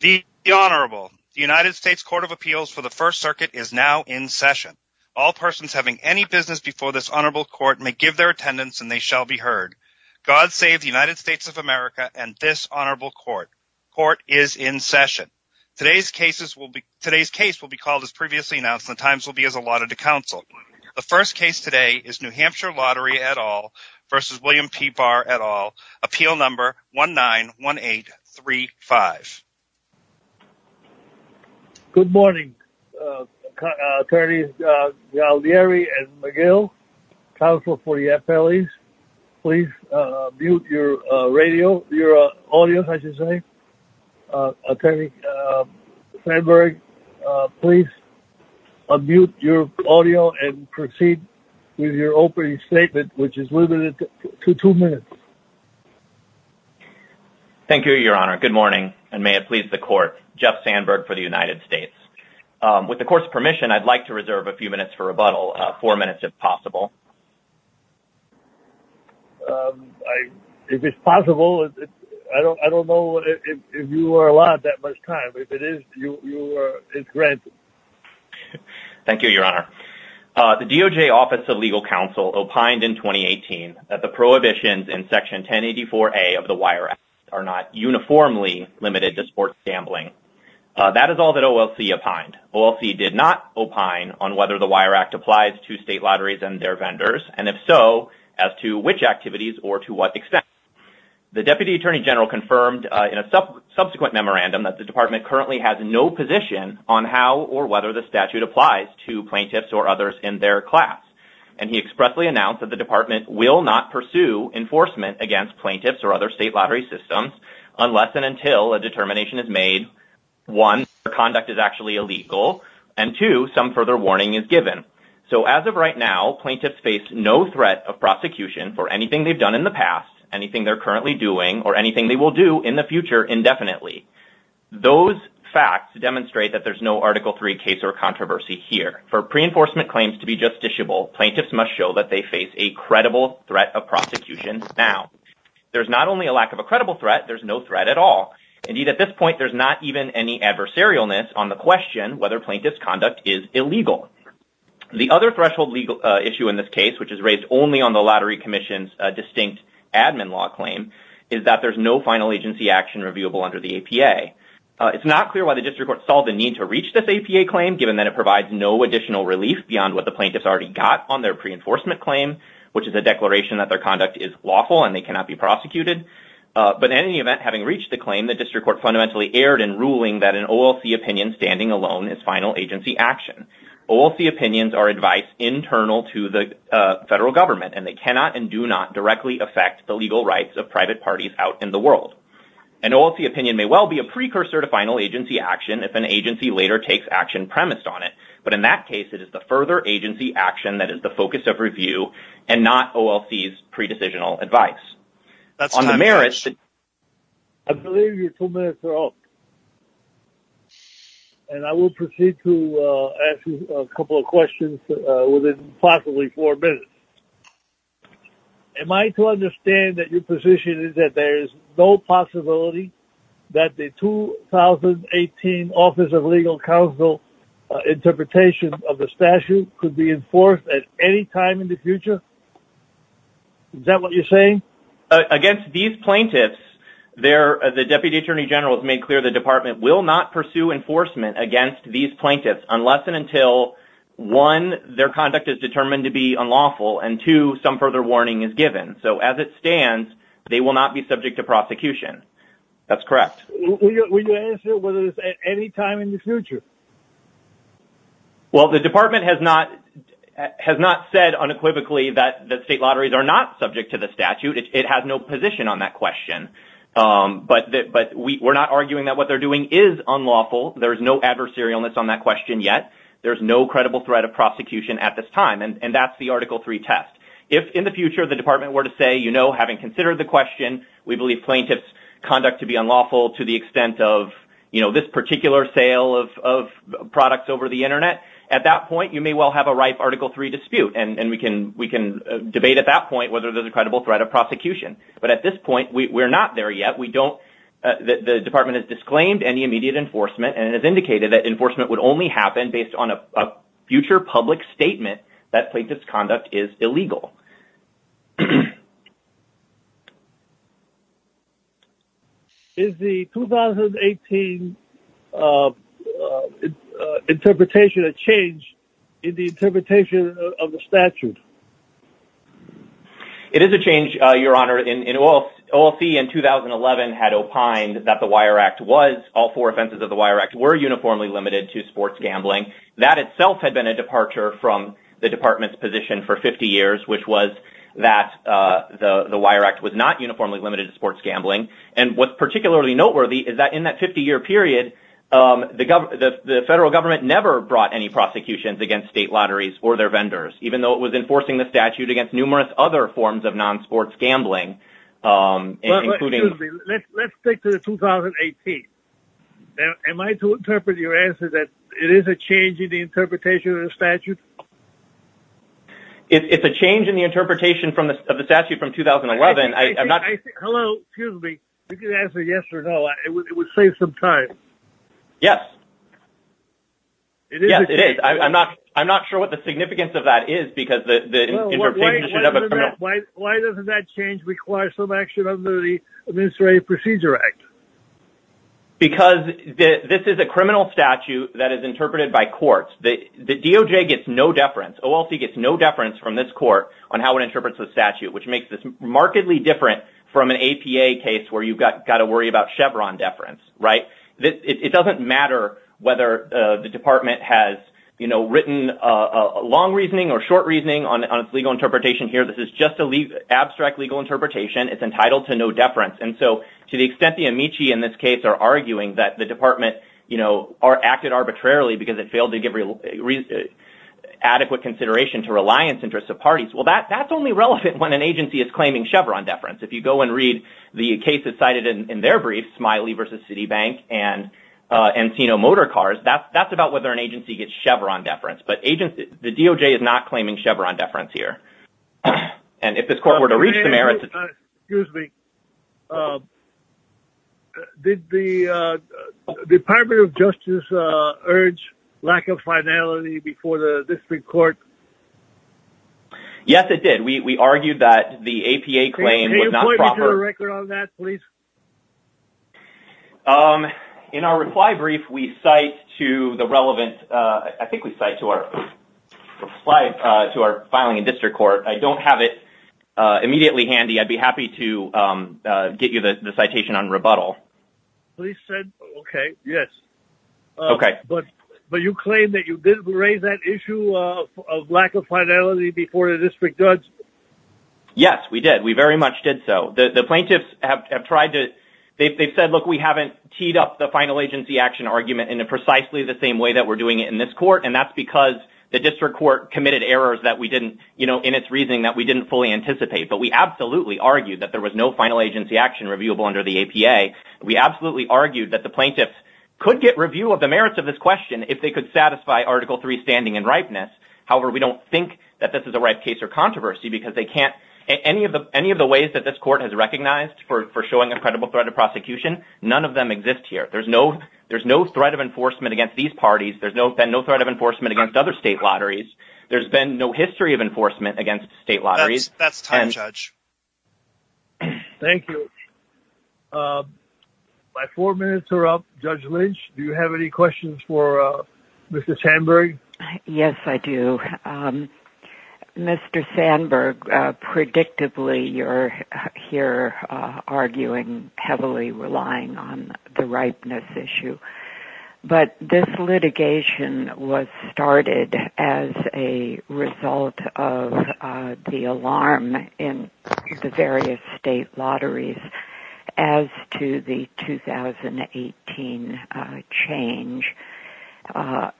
The Honorable, the United States Court of Appeals for the First Circuit is now in session. All persons having any business before this Honorable Court may give their attendance and they shall be heard. God save the United States of America and this Honorable Court. Court is in session. Today's case will be called as previously announced and the times will be as allotted to counsel. The first case today is New Hampshire Lottery et al. versus William P. Barr et al. Appeal number 191835. Good morning, attorneys Galdieri and McGill, counsel for the FLEs. Please mute your radio, your audio, I should say. Attorney Sandberg, please unmute your audio and proceed with your statement which is limited to two minutes. Thank you, Your Honor. Good morning and may it please the Court. Jeff Sandberg for the United States. With the Court's permission, I'd like to reserve a few minutes for rebuttal, four minutes if possible. If it's possible, I don't know if you are allowed that much time. If it is, it's granted. Thank you, Your Honor. The DOJ Office of Legal Counsel opined in 2018 that the prohibitions in Section 1084A of the Wire Act are not uniformly limited to sports gambling. That is all that OLC opined. OLC did not opine on whether the Wire Act applies to state lotteries and their vendors and if so, as to which activities or to what extent. The Deputy Attorney General confirmed in a subsequent memorandum that the department currently has no position on how or whether the statute applies to plaintiffs or others in their class. He expressly announced that the department will not pursue enforcement against plaintiffs or other state lottery systems unless and until a determination is made, one, their conduct is actually illegal and two, some further warning is given. As of right now, plaintiffs face no threat of prosecution for anything they've done in the past, anything they're currently doing, or anything they will do in the future indefinitely. Those facts demonstrate that there's no Article III case or controversy here. For pre-enforcement claims to be justiciable, plaintiffs must show that they face a credible threat of prosecution now. There's not only a lack of a credible threat, there's no threat at all. Indeed, at this point, there's not even any adversarialness on the question whether plaintiff's conduct is illegal. The other threshold legal issue in this case, which is raised only on the state admin law claim, is that there's no final agency action reviewable under the APA. It's not clear why the district court saw the need to reach this APA claim given that it provides no additional relief beyond what the plaintiffs already got on their pre-enforcement claim, which is a declaration that their conduct is lawful and they cannot be prosecuted. But in any event, having reached the claim, the district court fundamentally erred in ruling that an OLC opinion standing alone is final agency action. OLC opinions are advice internal to the legal rights of private parties out in the world. An OLC opinion may well be a precursor to final agency action if an agency later takes action premised on it. But in that case, it is the further agency action that is the focus of review and not OLC's pre-decisional advice. I believe your two minutes are up. And I will proceed to ask you a couple of questions within possibly four minutes. Am I to understand that your position is that there's no possibility that the 2018 Office of Legal Counsel interpretation of the statute could be enforced at any time in the future? Is that what you're saying? Against these plaintiffs, the Deputy Attorney General has made clear the department will not pursue enforcement against these plaintiffs unless and until one, their conduct is determined to be unlawful and two, some further warning is given. So as it stands, they will not be subject to prosecution. That's correct. Will you answer whether it's at any time in the future? Well, the department has not said unequivocally that state lotteries are not subject to the statute. It has no position on that question. But we're not arguing that what they're doing is unlawful. There's no adversarialness on that question yet. There's no credible threat of prosecution at this time. And that's the Article III test. If in the future the department were to say, you know, having considered the question, we believe plaintiff's conduct to be unlawful to the extent of this particular sale of products over the internet, at that point, you may well have a rife Article III dispute. And we can debate at that point whether there's a credible threat of prosecution. But at this point, we're not there yet. The department has not made any immediate enforcement, and it has indicated that enforcement would only happen based on a future public statement that plaintiff's conduct is illegal. Is the 2018 interpretation a change in the interpretation of the statute? It is a change, Your Honor. In all, OLC in 2011 had opined that the Wire Act was, all four offenses of the Wire Act were uniformly limited to sports gambling. That itself had been a departure from the department's position for 50 years, which was that the Wire Act was not uniformly limited to sports gambling. And what's particularly noteworthy is that in that 50-year period, the federal government never brought any prosecutions against state lotteries or their vendors, even though it was enforcing the statute against numerous other forms of non-sports gambling. Let's stick to the 2018. Am I to interpret your answer that it is a change in the interpretation of the statute? It's a change in the interpretation of the statute from 2011. Hello, excuse me. You can answer yes or no. It would save some time. Yes. Yes, it is. I'm not sure what the significance of that is. Why doesn't that change require some action under the Administrative Procedure Act? Because this is a criminal statute that is interpreted by courts. The DOJ gets no deference. OLC gets no deference from this court on how it interprets the statute, which makes this remarkably different from an APA case where you've got to worry about it. It doesn't matter whether the department has written a long reasoning or short reasoning on its legal interpretation here. This is just an abstract legal interpretation. It's entitled to no deference. And so to the extent the amici in this case are arguing that the department acted arbitrarily because it failed to give adequate consideration to reliance interests of parties, well, that's only relevant when an agency is claiming Chevron deference. If you go and read the cases cited in their brief, Smiley v. Citibank and Encino Motor Cars, that's about whether an agency gets Chevron deference. But the DOJ is not claiming Chevron deference here. And if this court were to reach the merits... Excuse me. Did the Department of Justice urge lack of finality before the district court? Yes, it did. We argued that the APA claim was not proper. In our reply brief, we cite to the relevant... I think we cite to our filing in district court. I don't have it immediately handy. I'd be happy to get you the citation on rebuttal. Please send... Okay. Yes. Okay. But you claim that you did raise that issue of lack of finality before the district judge? Yes, we did. We very much did so. The plaintiffs have tried to... They've said, look, we haven't teed up the final agency action argument in precisely the same way that we're doing it in this court. And that's because the district court committed errors in its reasoning that we didn't fully anticipate. But we absolutely argued that there was no final agency action reviewable under the APA. We absolutely argued that the plaintiffs could get review of the merits of this question if they could satisfy Article 3 standing and ripeness. However, we don't think that this is a ripe case or controversy because they can't... Any of the ways that this court has recognized for showing a credible threat of prosecution, none of them exist here. There's no threat of enforcement against these parties. There's been no threat of enforcement against other state lotteries. There's been no history of enforcement against state lotteries. That's time, Judge. Thank you. My four minutes are up. Judge Lynch, do you have any questions for Mr. Sandberg? Yes, I do. Mr. Sandberg, predictably, you're here arguing heavily relying on the ripeness issue. But this litigation was started as a result of the alarm in the various state lotteries as to the 2018 change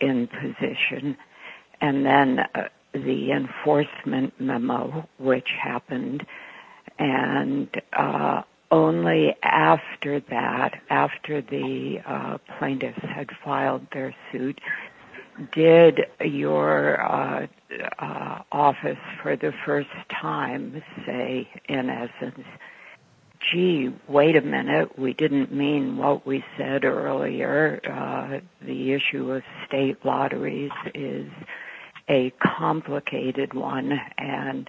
in position. And then the enforcement memo, which happened. And only after that, after the plaintiffs had filed their office for the first time, say, in essence, gee, wait a minute, we didn't mean what we said earlier. The issue of state lotteries is a complicated one. And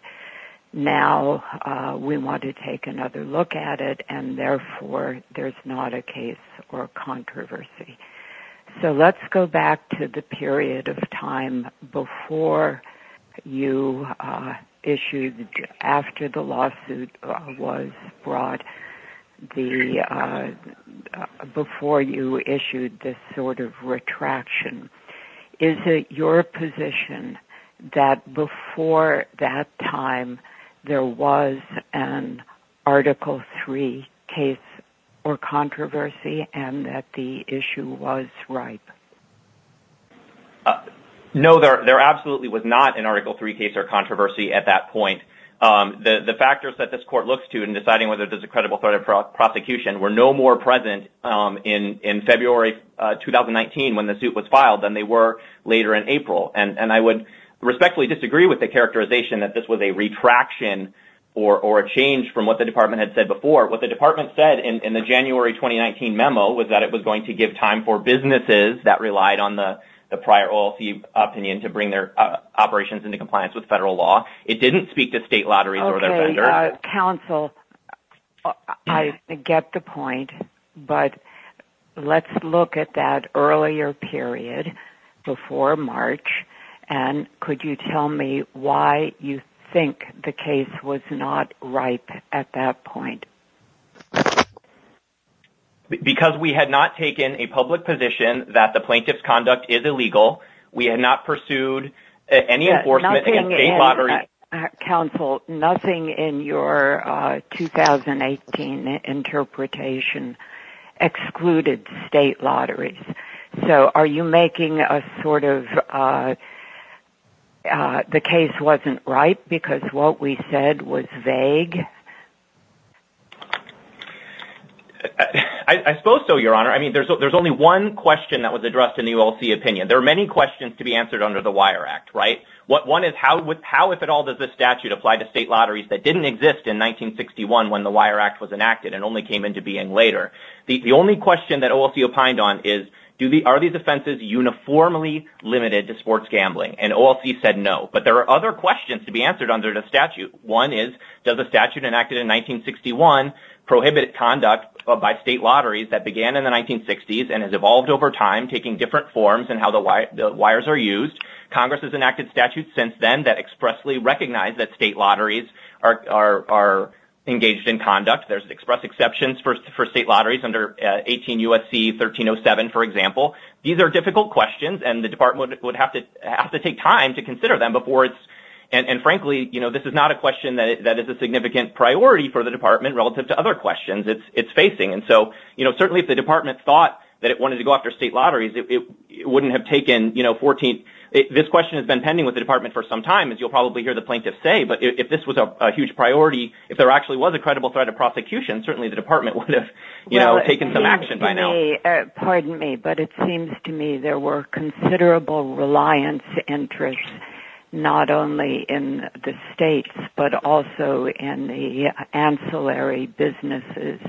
now, we want to take another look at it. And therefore, there's not a case or controversy. So let's go back to the issue. After the lawsuit was brought, before you issued this sort of retraction, is it your position that before that time, there was an article three case or controversy and that the issue was ripe? No, there absolutely was not an article three case or controversy at that point. The factors that this court looks to in deciding whether there's a credible threat of prosecution were no more present in February 2019 when the suit was filed than they were later in April. And I would respectfully disagree with the characterization that this was a retraction or a change from what the department had said before. What the department said in the January 2019 memo was that it was going to give time for businesses that relied on the prior OLC opinion to bring their operations into compliance with federal law. It didn't speak to state lotteries or their vendors. Okay, counsel, I get the point. But let's look at that earlier period before March. And could you tell me why you think the case was not ripe at that point? Because we had not taken a public position that the plaintiff's conduct is illegal. We had not pursued any enforcement against state lotteries. Counsel, nothing in your 2018 interpretation excluded state lotteries. So are you making a sort of, the case wasn't ripe because what we said was vague? I suppose so, Your Honor. I mean, there's only one question that was addressed in the OLC opinion. There are many questions to be answered under the Wire Act, right? One is, how if at all does this statute apply to state lotteries that didn't exist in 1961 when the Wire Act was enacted and only came into being later? The only question that OLC opined on is, are these offenses uniformly limited to sports gambling? And OLC said no. But there are other questions to be answered under the statute. One is, does the statute enacted in 1961 prohibit conduct by state lotteries that began in the 1960s and has evolved over time, taking different forms in how the wires are used? Congress has enacted statutes since then that expressly recognize that state lotteries are engaged in conduct. There's express exceptions for state lotteries under 18 USC 1307, for example. These are difficult questions and the department would have to have to take time to consider them before it's, and frankly, you know, this is not a question that is a significant priority for the department relative to other questions it's facing. And so, you know, certainly if the department thought that it wanted to go after state lotteries, it wouldn't have taken, you know, 14. This question has been pending with the department for some time, as you'll probably hear the plaintiff say, but if this was a huge priority, if there actually was a credible threat of prosecution, certainly the department would have, you know, taken some action. It seems to me there were considerable reliance interests, not only in the states, but also in the ancillary businesses,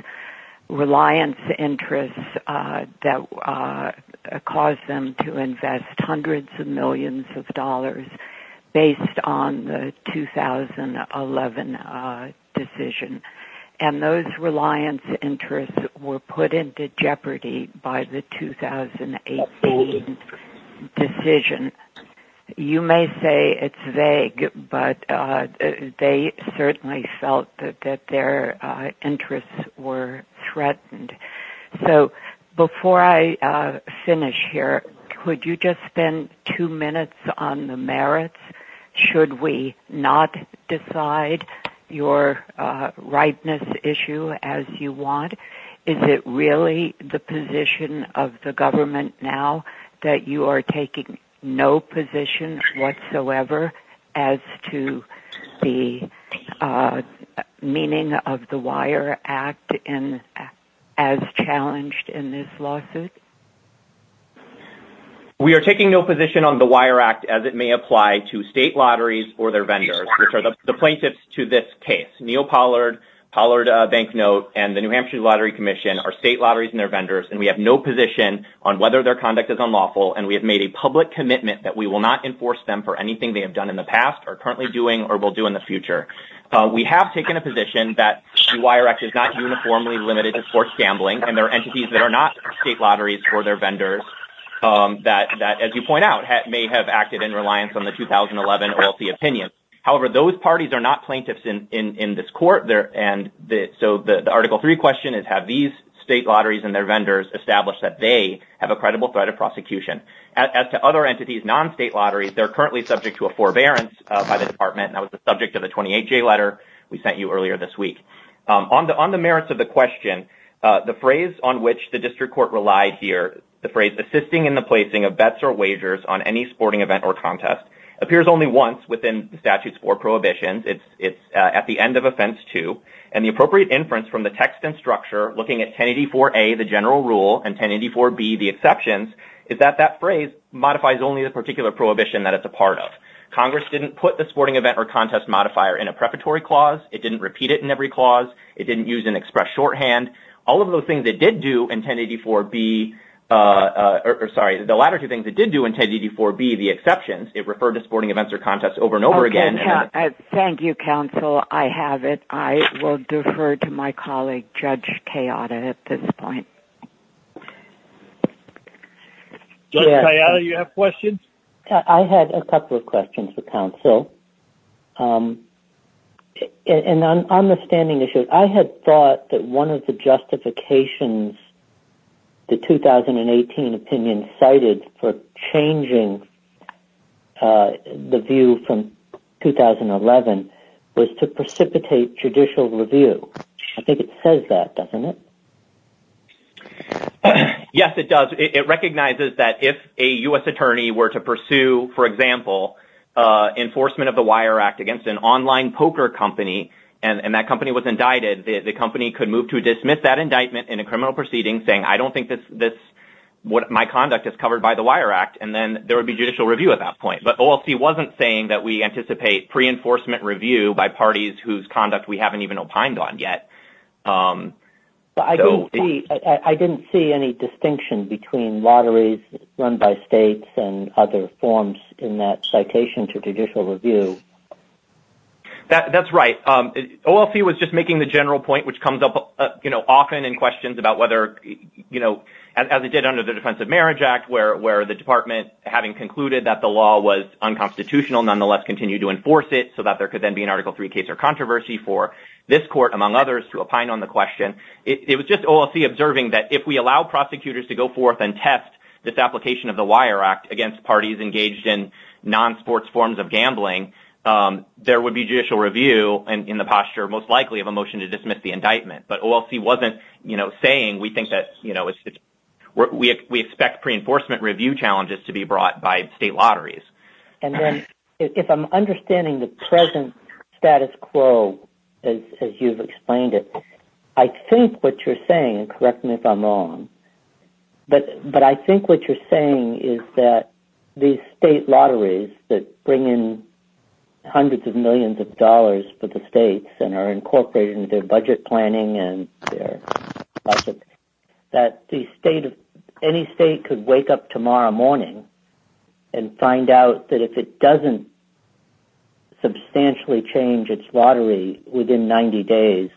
reliance interests that caused them to invest hundreds of millions of dollars based on the 2011 decision. And those reliance interests were put into jeopardy by the 2018 decision. You may say it's vague, but they certainly felt that their interests were on the merits. Should we not decide your rightness issue as you want? Is it really the position of the government now that you are taking no position whatsoever as to the meaning of the Wire Act as challenged in this lawsuit? We are taking no position on the Wire Act as it may apply to state lotteries or their vendors, which are the plaintiffs to this case. Neil Pollard, Pollard Banknote, and the New Hampshire Lottery Commission are state lotteries and their vendors, and we have no position on whether their conduct is unlawful, and we have made a public commitment that we will not enforce them for anything they have done in the past, are currently doing, or will do in the future. We have taken a position that the Wire Act is not uniformly limited to forced gambling, and there are entities that are not state lotteries for their vendors that, as you point out, may have acted in reliance on the 2011 OLC opinion. However, those parties are not plaintiffs in this court, and so the Article III question is, have these state lotteries and their vendors established that they have a credible threat of prosecution? As to other entities, non-state lotteries, they are currently subject to a forbearance by the Department, and that was the subject of the 28-J letter we sent you earlier this week. On the merits of the question, the phrase on which the district court relied here, the phrase, assisting in the placing of bets or wagers on any sporting event or contest, appears only once within the statute's four prohibitions. It's at the end of Offense 2, and the appropriate inference from the text and structure, looking at 1084A, the general rule, and 1084B, the exceptions, is that that phrase modifies only the particular prohibition that it's a part of. Congress didn't put the sporting event or contest modifier in a preparatory clause. It didn't repeat it in every clause. It didn't use express shorthand. All of those things it did do in 1084B, or sorry, the latter two things it did do in 1084B, the exceptions, it referred to sporting events or contests over and over again. Thank you, counsel. I have it. I will defer to my colleague, Judge Kayada, at this point. Judge Kayada, you have questions? I had a couple of questions for counsel. And on the standing issue, I had thought that one of the justifications the 2018 opinion cited for changing the view from 2011 was to precipitate judicial review. I think it says that, doesn't it? Yes, it does. It recognizes that if a U.S. attorney were to pursue, for example, enforcement of the Wire Act against an online poker company, and that company was indicted, the company could move to dismiss that indictment in a criminal proceeding saying, I don't think my conduct is covered by the Wire Act, and then there would be judicial review at that point. But OLC wasn't saying that we anticipate pre-enforcement review by parties whose I didn't see any distinction between lotteries run by states and other forms in that citation to judicial review. That's right. OLC was just making the general point, which comes up, you know, often in questions about whether, you know, as it did under the Defense of Marriage Act, where the department, having concluded that the law was unconstitutional, nonetheless continued to enforce it so that there could then be an Article III case or controversy for this court, among others, to opine on the question. It was just OLC observing that if we allow prosecutors to go forth and test this application of the Wire Act against parties engaged in non-sports forms of gambling, there would be judicial review in the posture, most likely, of a motion to dismiss the indictment. But OLC wasn't, you know, saying we think that, you know, we expect pre-enforcement review challenges to be brought by state lotteries. And then if I'm understanding the present status quo as you've explained it, I think what you're saying, and correct me if I'm wrong, but I think what you're saying is that these state lotteries that bring in hundreds of millions of dollars for the states and are incorporated in their budget planning and their budget, that any state could wake up tomorrow morning and find out that if it doesn't substantially change its lottery within 90 days,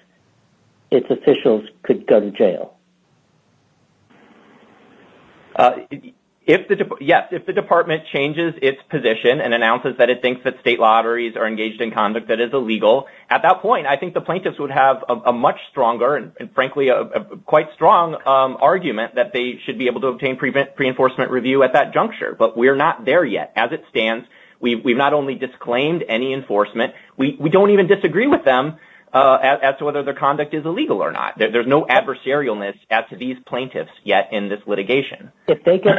its officials could go to jail. Yes, if the department changes its position and announces that it thinks that state lotteries are engaged in conduct that is illegal, at that point, I think the plaintiffs would have a much stronger, and frankly, a quite strong argument that they should be able to obtain pre-enforcement review at that juncture. But we're not there yet. As it stands, we've not only disclaimed any enforcement, we don't even disagree with them as to whether their conduct is illegal or not. There's no adversarialness as to these plaintiffs yet in this litigation. If they get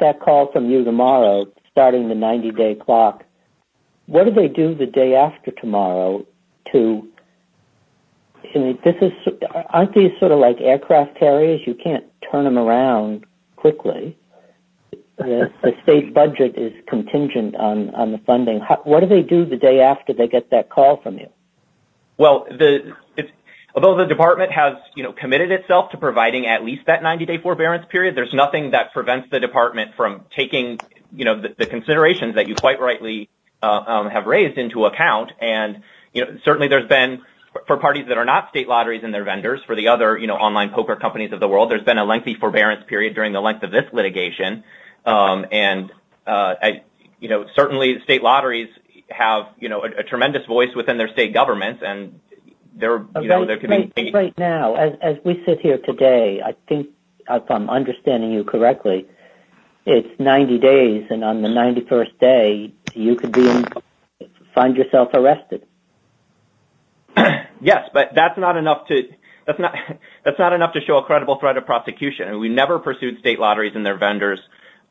that call from you tomorrow, starting the 90-day clock, what do they do the day after tomorrow? Aren't these sort of like aircraft carriers? You can't turn them around quickly. The state budget is contingent on the funding. What do they do the day after they get that call from you? Although the department has committed itself to providing at least that 90-day forbearance period, there's nothing that prevents the department from taking the considerations that you quite rightly have raised into account. For parties that are not state lotteries and their vendors, for the other online poker companies of the world, there's been a lengthy forbearance period during the length of this litigation. Certainly, state lotteries have a tremendous voice within their state governments. Right now, as we sit here today, if I'm understanding you correctly, it's 90 days. On the 91st day, you could find yourself arrested. Yes, but that's not enough to show a credible threat of prosecution. We never pursued state lotteries and their vendors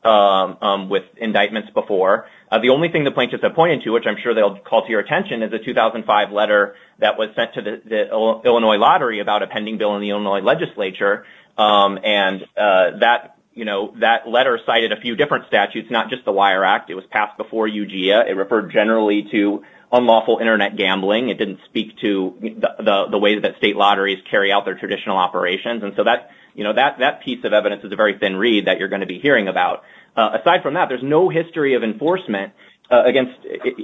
with indictments before. The only thing the plaintiffs have pointed to, which I'm sure they'll call to your attention, is a 2005 letter that was sent to the Illinois lottery about a pending bill in the Illinois legislature. That letter cited a few different statutes, not just the Wire Act. It was passed before UGA. It referred generally to unlawful internet gambling. It didn't speak to the way that state lotteries carry out their traditional operations. That piece of evidence is a very thin reed that you're going to be hearing about. Aside from that, there's no history of enforcement against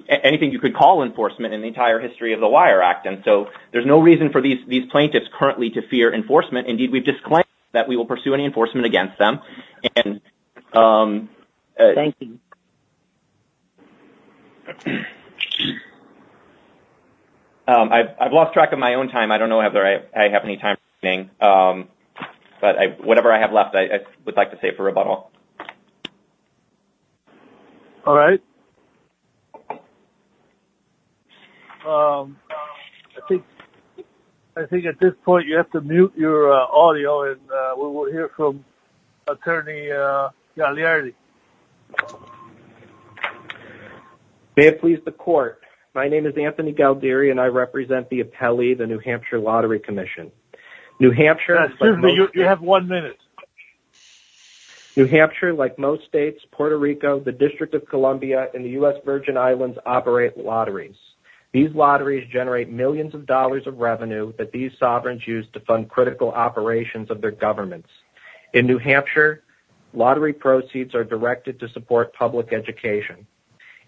anything you could call enforcement in the entire history of the Wire Act. There's no reason for these plaintiffs currently to fear enforcement. Indeed, we've disclaimed that we will pursue any enforcement against them. I've lost track of my own time. I don't know whether I have any time remaining, but whatever I have left, I would like to save for rebuttal. All right. I think at this point, you have to mute your audio. We'll hear from Attorney Gagliardi. May it please the court. My name is Anthony Gagliardi, and I represent the appellee, the New Hampshire Lottery Commission. New Hampshire... Excuse me. You have one minute. New Hampshire, like most states, Puerto Rico, the District of Columbia, and the U.S. Virgin Islands operate lotteries. These lotteries generate millions of dollars of revenue that these sovereigns use to fund critical operations of their governments. In New Hampshire, lottery proceeds are directed to support public education.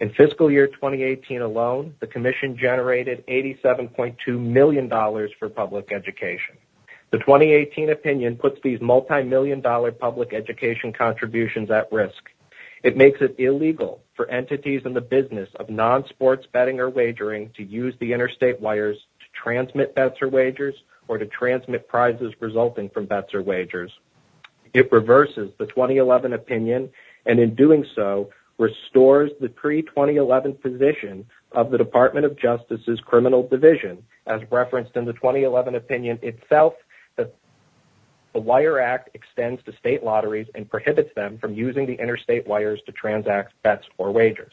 In fiscal year 2018 alone, the commission generated $87.2 million for public education. The 2018 opinion puts these multimillion-dollar public education contributions at risk. It makes it illegal for entities in the business of non-sports betting or wagering to use the interstate wires to transmit bets or wagers or to transmit prizes resulting from bets or wagers. It reverses the 2011 opinion, and in doing so, restores the pre-2011 position of the Department of Justice's criminal division. As referenced in the 2011 opinion itself, the Wire Act extends to state lotteries and prohibits them from using the interstate wires to transact bets or wagers.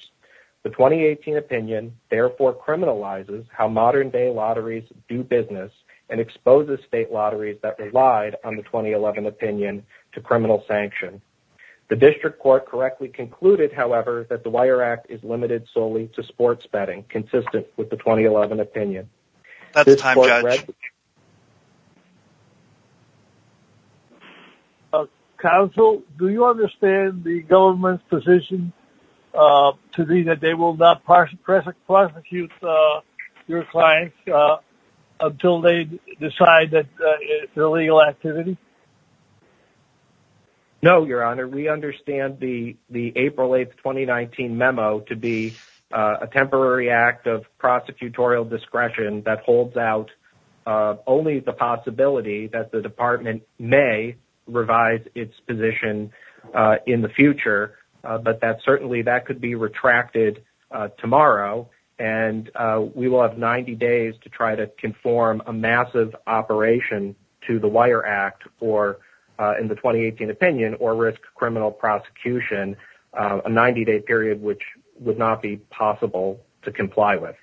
The 2018 opinion therefore criminalizes how modern-day lotteries do business and exposes state lotteries that relied on the 2011 opinion to criminal sanction. The district court correctly concluded, however, that the Wire Act is limited solely to sports betting consistent with the 2011 opinion. That's time, Judge. Counsel, do you understand the government's position to me that they will not prosecute your clients until they decide that it's illegal activity? No, Your Honor. We understand the April 8th, 2019 memo to be a temporary act of prosecutorial discretion that holds out only the possibility that the department may revise its position in the future, but that certainly that could be retracted tomorrow, and we will have 90 days to try to conform a massive operation to the Wire Act or in the 2018 opinion or risk criminal prosecution, a 90-day period which would not be possible to comply with.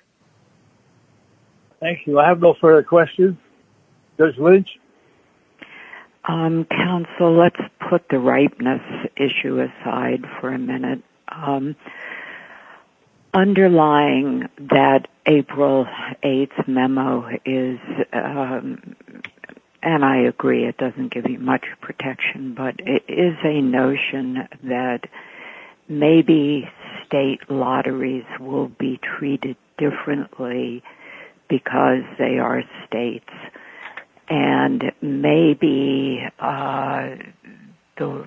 Thank you. I have no further questions. Judge Lynch? Counsel, let's put the ripeness issue aside for a minute. Underlying that April 8th memo is, and I agree it doesn't give you much protection, but it is a notion that maybe state lotteries will be treated differently because they are states, and maybe the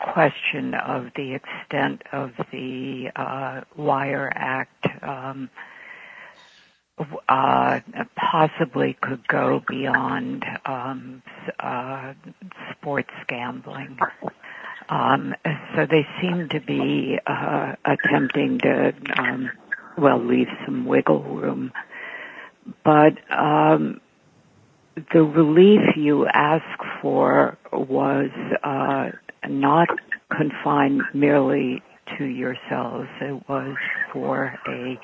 question of the extent of the Wire Act possibly could go beyond sports gambling. So they seem to be attempting to, well, leave some wiggle room, but the relief you ask for was not confined merely to yourselves. It was for a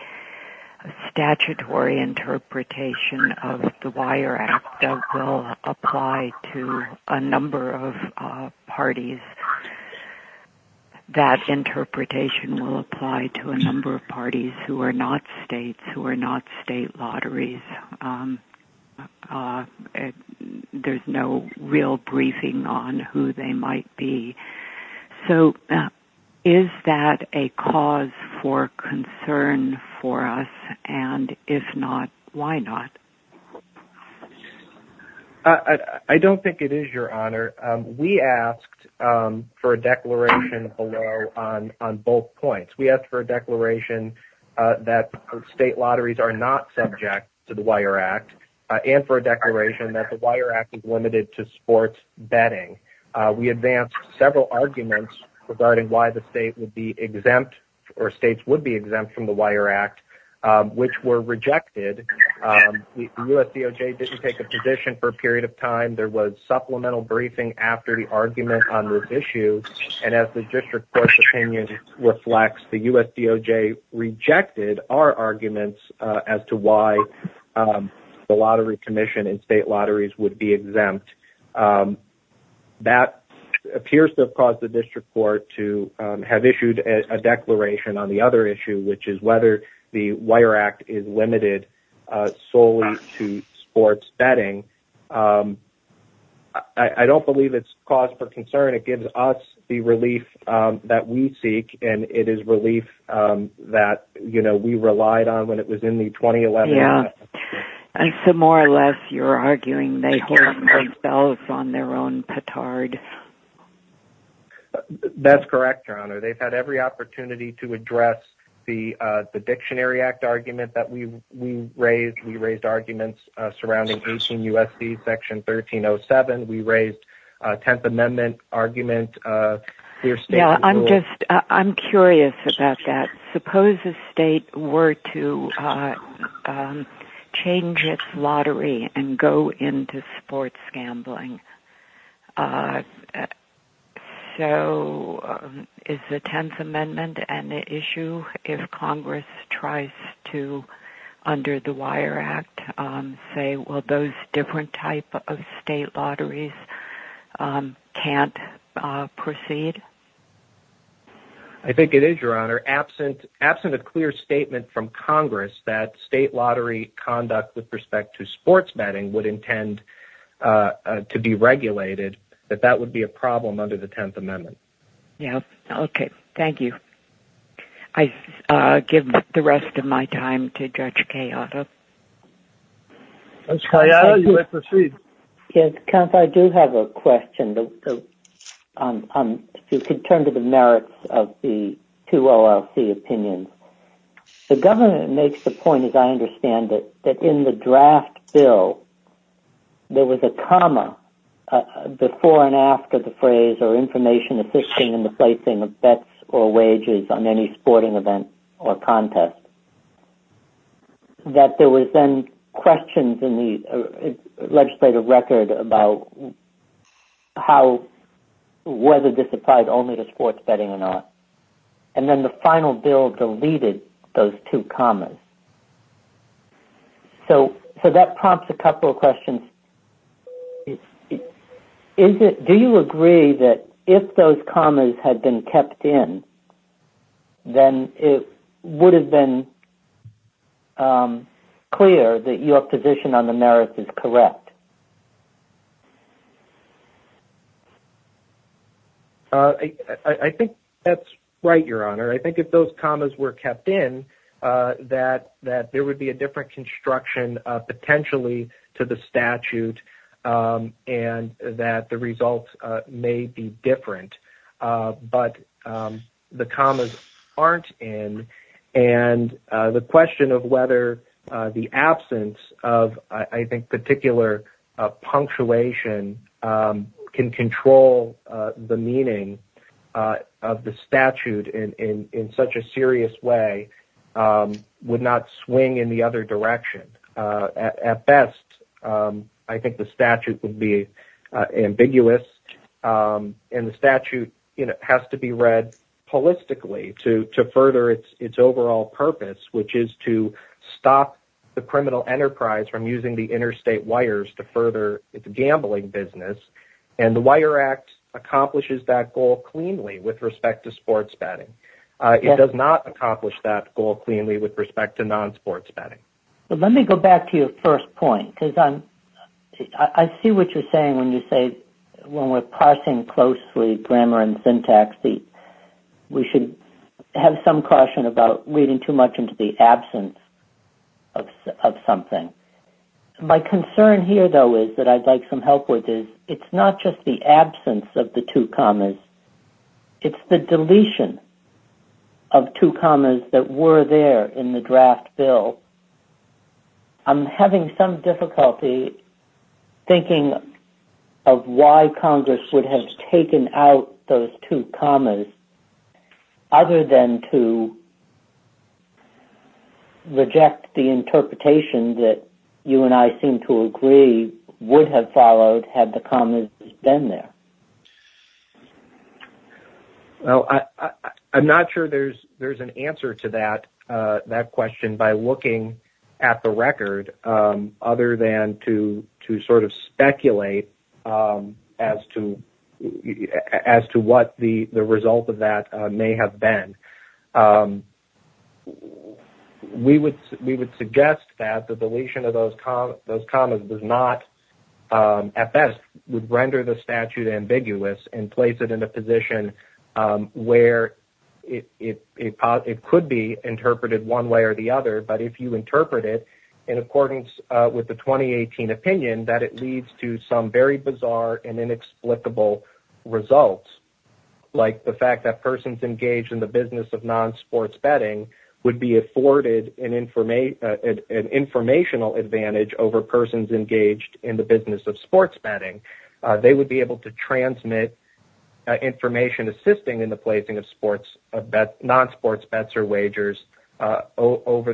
statutory interpretation of the Wire Act that will apply to a number of parties. That interpretation will apply to a number of parties who are not states, who are not state lotteries. There's no real briefing on who they might be. So is that a cause for concern for us, and if not, why not? I don't think it is, Your Honor. We asked for a declaration below on both points. We asked for a declaration that state lotteries are not subject to the Wire Act, and for a declaration that the Wire Act is limited to sports betting. We advanced several arguments regarding why the state would be exempt, or states would be exempt from the Wire Act, which were rejected. The US DOJ didn't take a position for a period of time. There was supplemental briefing after the argument on this issue, and as the District Court's opinion reflects, the US DOJ rejected our arguments as to why the Lottery Commission and state lotteries would be exempt. That appears to have caused the District Court to have issued a declaration on the other issue, which is whether the Wire Act is limited solely to sports betting. I don't believe it's cause for concern. It gives us the relief that we seek, and it is relief that, you know, we relied on when it was in the 2011... Yeah, and so more or less, you're arguing they hold themselves on their own petard. That's correct, Your Honor. They've had every opportunity to address the Dictionary Act argument that we raised. We raised arguments surrounding 18 U.S.C. Section 1307. We raised a Tenth Amendment argument. Yeah, I'm just... I'm curious about that. Suppose a state were to change its lottery and go into sports gambling. So, is the Tenth Amendment an issue if Congress tries to, under the Wire Act, say, well, those different type of state lotteries can't proceed? I think it is, Your Honor. Absent a clear statement from Congress that state lottery conduct with respect to sports betting would intend to be regulated, that that would be a problem under the Tenth Amendment. Yeah. Okay. Thank you. I give the rest of my time to Judge Calleado. Judge Calleado, you may proceed. Yes, Counsel, I do have a question. You could turn to the merits of the two OLC opinions. The government makes the point, as I understand it, that in the draft bill, there was a comma before and after the phrase, or information assisting in the placing of bets or wages on any sporting event or contest. That there was then questions in the legislative record about how, whether this applied only to sports betting or not. And then the final bill deleted those two commas. So that prompts a couple of questions. Do you agree that if those commas had been kept in, then it would have been clear that your position on the merits is correct? I think that's right, Your Honor. I think if those commas were kept in, that there would be a different construction potentially to the statute and that the results may be different. But the commas aren't in. And the question of whether the absence of, I think, particular punctuation can control the meaning of the statute in such a serious way would not swing in the other direction. At best, I think the statute would be ambiguous. And the statute has to be read holistically to further its overall purpose, which is to stop the criminal enterprise from using the interstate wires to further its gambling business. And the Wire Act accomplishes that goal cleanly with respect to sports betting. It does not accomplish that goal cleanly with respect to non-sports betting. But let me go back to your first point, because I see what you're saying when you say, when we're parsing closely grammar and syntax, we should have some caution about reading too much into the absence of something. My concern here, though, is that I'd like some help with this. It's not just the absence of the two commas. It's the deletion of two commas that were there in the draft bill. I'm having some difficulty thinking of why Congress would have taken out those two commas, other than to reject the interpretation that you and I seem to agree would have followed had the commas been there. Well, I'm not sure there's an answer to that question by looking at the record, other than to sort of speculate as to what the result of that may have been. We would suggest that the deletion of those commas does not, at best, would render the statute ambiguous and place it in a position where it could be interpreted one way or the other. But if you interpret it in accordance with the 2018 opinion, that it leads to some very bizarre and inexplicable results, like the fact that persons engaged in the business of non-sports betting would be afforded an informational advantage over persons engaged in the business of sports betting. They would be able to transmit information assisting in the placing of non-sports bets or wagers over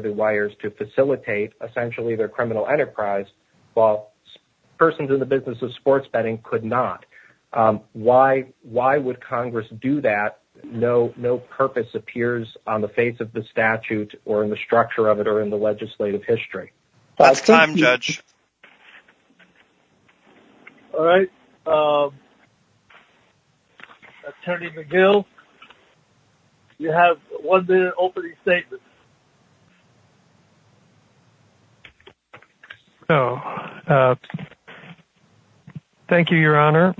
the wires to facilitate, essentially, their criminal enterprise, while persons in the business of sports betting could not. Why would Congress do that? No purpose appears on the face of the statute or in the structure of it or in the legislative history. That's time, Judge. All right. Attorney McGill, you have one minute opening statement. Thank you, Your Honor,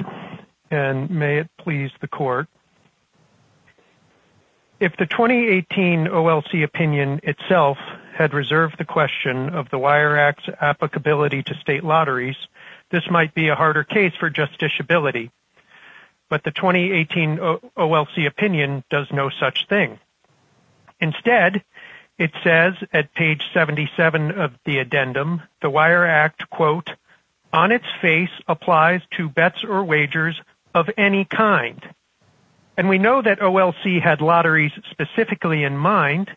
and may it please the Court. If the 2018 OLC opinion itself had reserved the question of the Wire Act's applicability to state lotteries, this might be a harder case for justiciability. But the 2018 OLC opinion does no such thing. Instead, it says at page 77 of the addendum, the Wire Act, quote, on its face applies to bets or wagers of any kind. And we know that OLC had lotteries specifically in mind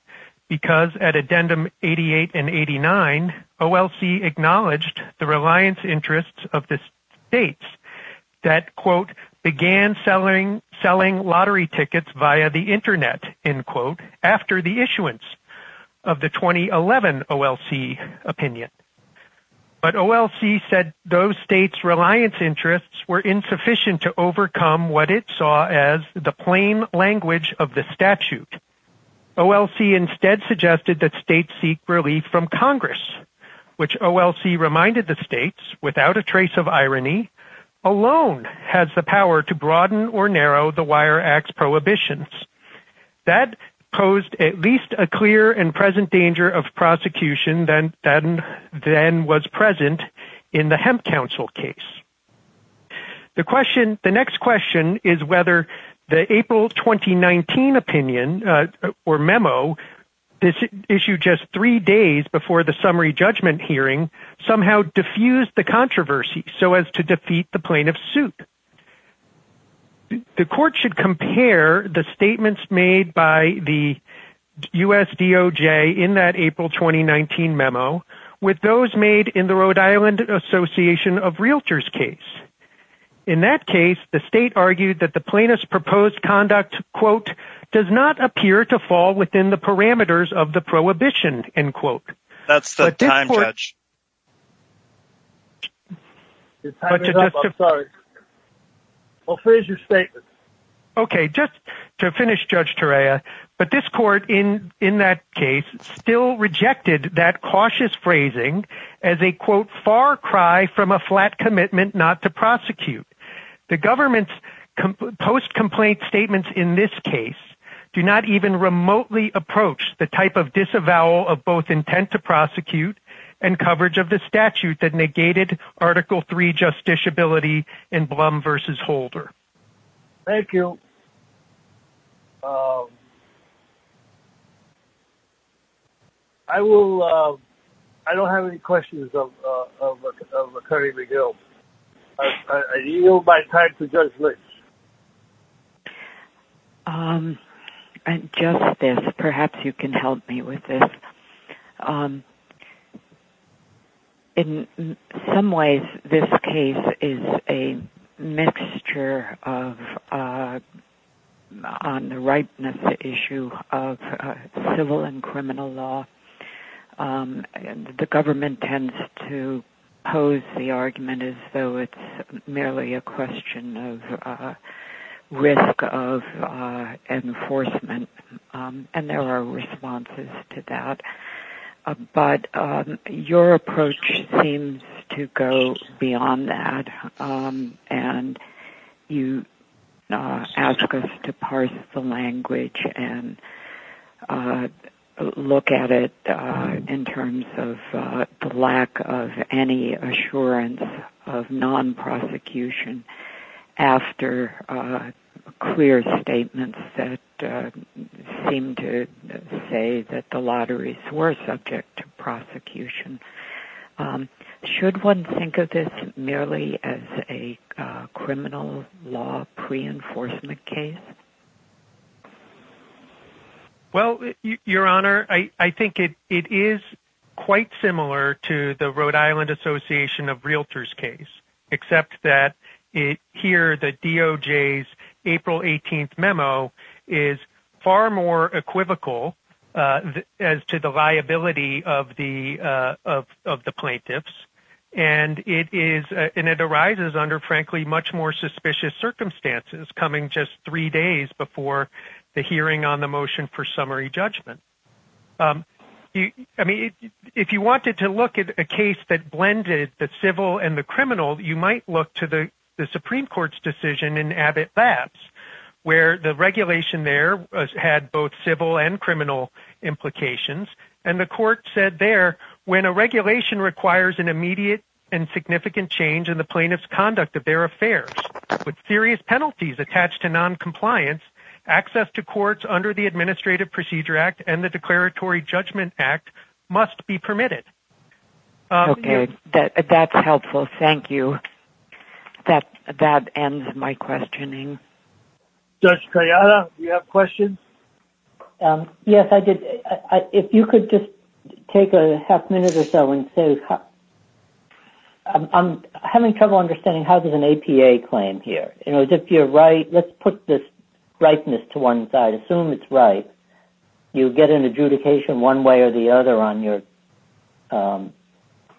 because at addendum 88 and 89, OLC acknowledged the reliance interests of the states that, quote, began selling lottery tickets via the internet, end quote, after the issuance of the 2011 OLC opinion. But OLC said those states' reliance interests were insufficient to overcome what it saw as the plain language of the statute. OLC instead suggested that states seek relief from Congress, which OLC reminded the states, without a trace of irony, alone has the and present danger of prosecution than was present in the Hemp Council case. The next question is whether the April 2019 opinion or memo issued just three days before the summary judgment hearing somehow diffused the controversy so as to defeat the plaintiff's suit. The court should compare the statements made by the USDOJ in that April 2019 memo with those made in the Rhode Island Association of Realtors case. In that case, the state argued that the plaintiff's proposed conduct, quote, does not appear to fall within the parameters of the prohibition, end quote. Okay, just to finish, Judge Turea, but this court in that case still rejected that cautious phrasing as a, quote, far cry from a flat commitment not to prosecute. The government's post-complaint statements in this case do not even remotely approach the type of disavowal of both intent to prosecute and coverage of the statute that negated Article III justiciability in Blum v. Holder. Thank you. I will, I don't have any questions of Attorney McGill. I yield my time to Judge Litch. Um, and Justice, perhaps you can help me with this. In some ways, this case is a mixture of on the rightness issue of civil and criminal law. The government tends to pose the argument as it's merely a question of risk of enforcement, and there are responses to that. But your approach seems to go beyond that, and you ask us to parse the language and look at it in terms of the lack of any assurance of non-prosecution after clear statements that seem to say that the lotteries were subject to prosecution. Should one think of this merely as a criminal law pre-enforcement case? Well, Your Honor, I think it is quite similar to the Rhode Island Association of Realtors case, except that here, the DOJ's April 18th memo is far more equivocal as to the liability of the plaintiffs. And it arises under, frankly, much more suspicious circumstances coming just three before the hearing on the motion for summary judgment. I mean, if you wanted to look at a case that blended the civil and the criminal, you might look to the Supreme Court's decision in Abbott Labs, where the regulation there had both civil and criminal implications. And the court said there, when a regulation requires an immediate and significant change in the plaintiff's conduct of their affairs, with serious penalties attached to non-compliance, access to courts under the Administrative Procedure Act and the Declaratory Judgment Act must be permitted. Okay, that's helpful. Thank you. That ends my questioning. Judge Trajano, you have questions? Yes, I did. If you could just take a half minute or so and say, I'm having trouble understanding how does an APA claim here? You know, if you're right, let's put this rightness to one side, assume it's right, you get an adjudication one way or the other on your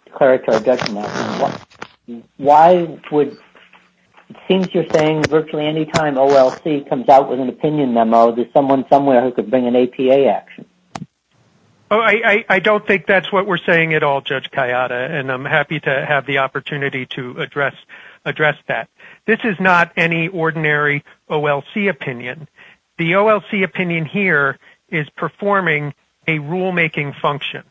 declaratory judgment. Why would, it seems you're saying virtually any time OLC comes out with an opinion memo, there's someone somewhere who could bring an APA action. Oh, I don't think that's what we're saying at all, Judge Kayada, and I'm happy to have the opportunity to address that. This is not any ordinary OLC opinion. The OLC opinion here is performing a rulemaking function.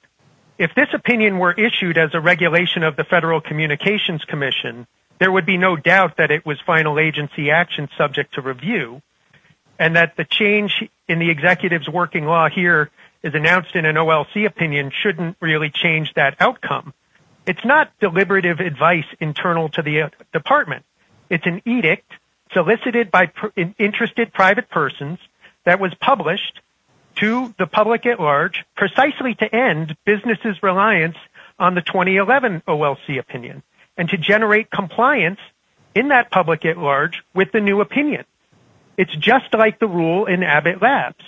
If this opinion were issued as a regulation of the Federal Communications Commission, there would be no doubt that it was final agency action subject to review and that the change in the executive's working law here is announced in an OLC opinion shouldn't really change that outcome. It's not deliberative advice internal to the department. It's an edict solicited by interested private persons that was published to the public at large precisely to end businesses' reliance on the 2011 OLC opinion and to generate compliance in that public at large with the new opinion. It's just like the rule in Abbott Labs.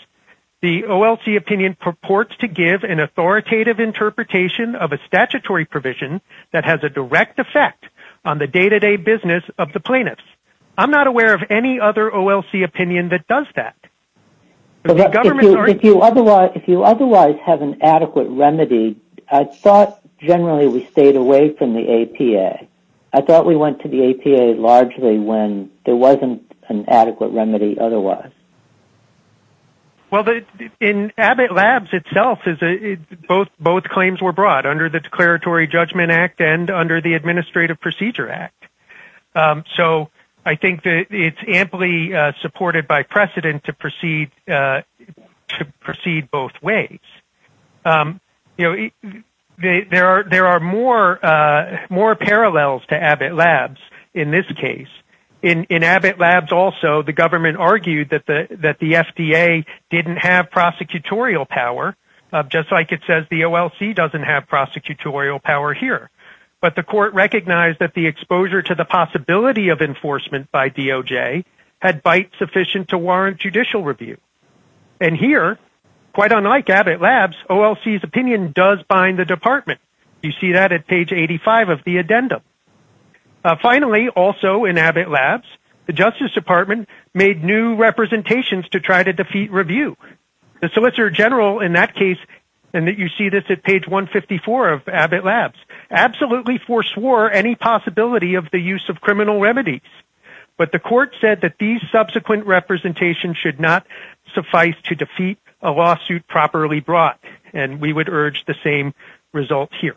The OLC opinion purports to give an authoritative interpretation of a statutory provision that has a direct effect on the day-to-day business of the plaintiffs. I'm not aware of any other OLC opinion that does that. If you otherwise have an adequate remedy, I thought generally we stayed away from the APA. I thought we went to the APA largely when there wasn't an adequate remedy otherwise. Well, in Abbott Labs itself, both claims were brought under the Declaratory Judgment Act and under the Administrative Procedure Act. I think it's amply supported by precedent to proceed both ways. There are more parallels to Abbott Labs in this case. In Abbott Labs also, the government argued that the FDA didn't have prosecutorial power, just like it says the OLC doesn't have prosecutorial power here. But the court recognized that the exposure to the Quite unlike Abbott Labs, OLC's opinion does bind the department. You see that at page 85 of the addendum. Finally, also in Abbott Labs, the Justice Department made new representations to try to defeat review. The Solicitor General in that case, and you see this at page 154 of Abbott Labs, absolutely foreswore any possibility of the use of criminal remedies. But the court said that these subsequent representations should not suffice to defeat a lawsuit properly brought, and we would urge the same result here.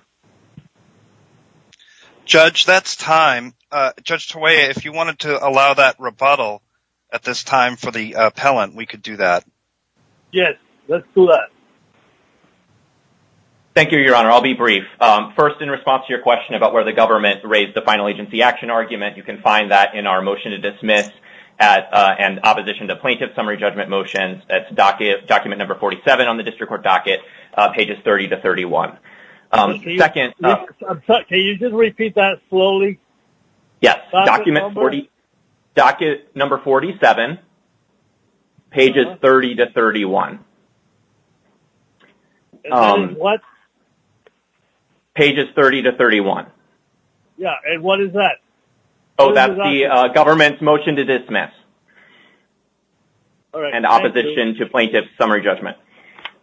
Judge, that's time. Judge Tawaiya, if you wanted to allow that rebuttal at this time for the appellant, we could do that. Yes, let's do that. Thank you, Your Honor. I'll be brief. First, in response to your question about where the government raised the final agency action argument, you can find that in our motion to dismiss and opposition to plaintiff summary judgment motions. That's document number 47 on the district court docket, pages 30 to 31. Can you just repeat that slowly? Yes, document number 47, pages 30 to 31. And what is that? Oh, that's the government's motion to dismiss and opposition to plaintiff summary judgment.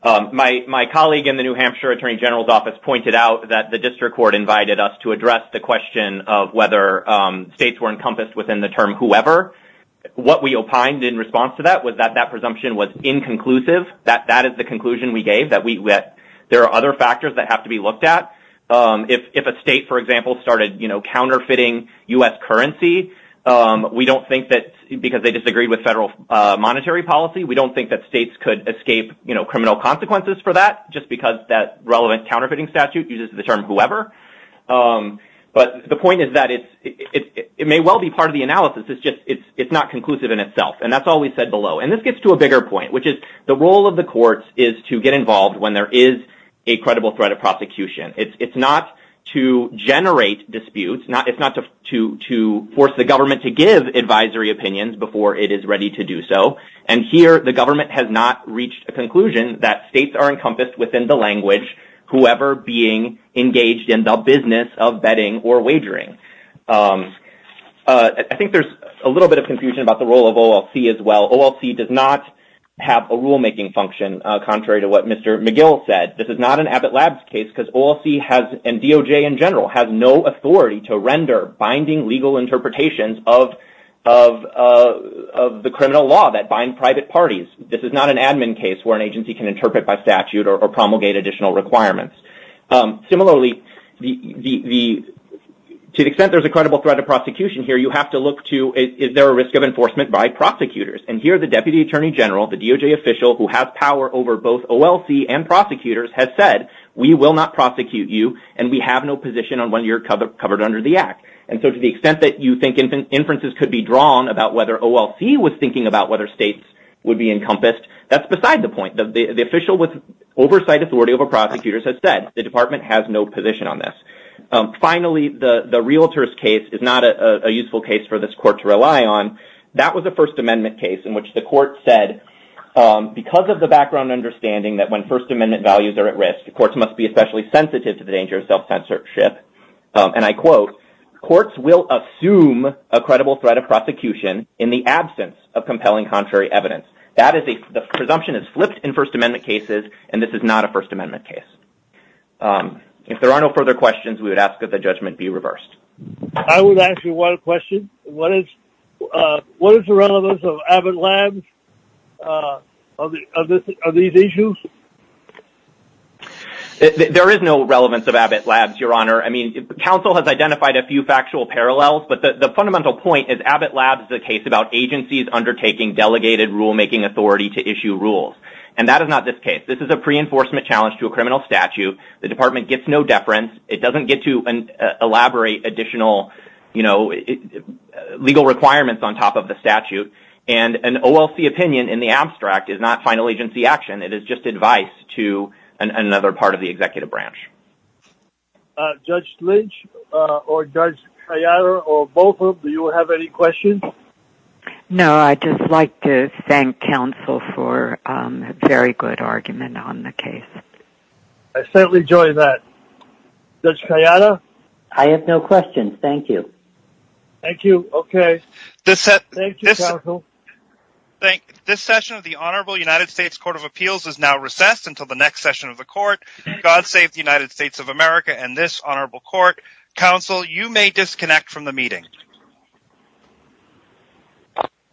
My colleague in the New Hampshire Attorney General's office pointed out that the district court invited us to address the question of whether states were encompassed within the term whoever. What we opined in response to that was that that is the conclusion we gave, that there are other factors that have to be looked at. If a state, for example, started counterfeiting U.S. currency because they disagreed with federal monetary policy, we don't think that states could escape criminal consequences for that just because that relevant counterfeiting statute uses the term whoever. But the point is that it may well be part of the analysis. It's just it's not conclusive in is to get involved when there is a credible threat of prosecution. It's not to generate disputes. It's not to force the government to give advisory opinions before it is ready to do so. And here the government has not reached a conclusion that states are encompassed within the language whoever being engaged in the business of betting or wagering. I think there's a little bit of confusion about the role of OLC as well. OLC does not have a rulemaking function, contrary to what Mr. McGill said. This is not an Abbott Labs case because OLC has, and DOJ in general, has no authority to render binding legal interpretations of the criminal law that bind private parties. This is not an admin case where an agency can interpret by statute or promulgate additional requirements. Similarly, to the extent there's a credible threat of prosecution here, you have to look to is there a risk of enforcement by DOJ. The DOJ official who has power over both OLC and prosecutors has said, we will not prosecute you and we have no position on when you're covered under the act. And so to the extent that you think inferences could be drawn about whether OLC was thinking about whether states would be encompassed, that's beside the point. The official with oversight authority over prosecutors has said the department has no position on this. Finally, the realtors case is not a useful case for this court to rely on. That was a First Amendment case in which the court said, because of the background understanding that when First Amendment values are at risk, the courts must be especially sensitive to the danger of self-censorship. And I quote, courts will assume a credible threat of prosecution in the absence of compelling contrary evidence. The presumption is flipped in First Amendment cases and this is not a First Amendment case. If there are no further questions, we would ask that the judgment be reversed. I would ask you one question. What is the relevance of Abbott Labs on these issues? There is no relevance of Abbott Labs, Your Honor. I mean, the council has identified a few factual parallels, but the fundamental point is Abbott Labs is a case about agencies undertaking delegated rulemaking authority to issue rules. And that is not this case. This is a pre-enforcement challenge to a criminal statute. The department gets no deference. It doesn't get to elaborate additional you know, legal requirements on top of the statute. And an OLC opinion in the abstract is not final agency action. It is just advice to another part of the executive branch. Judge Lynch or Judge Kayada or both of them, do you have any questions? No, I'd just like to thank counsel for a very good argument on the case. I certainly enjoy that. Judge Kayada? I have no questions. Thank you. Thank you. Okay. Thank you, counsel. This session of the Honorable United States Court of Appeals is now recessed until the next session of the court. God save the United States of America and this honorable court. Counsel, you may disconnect from the meeting.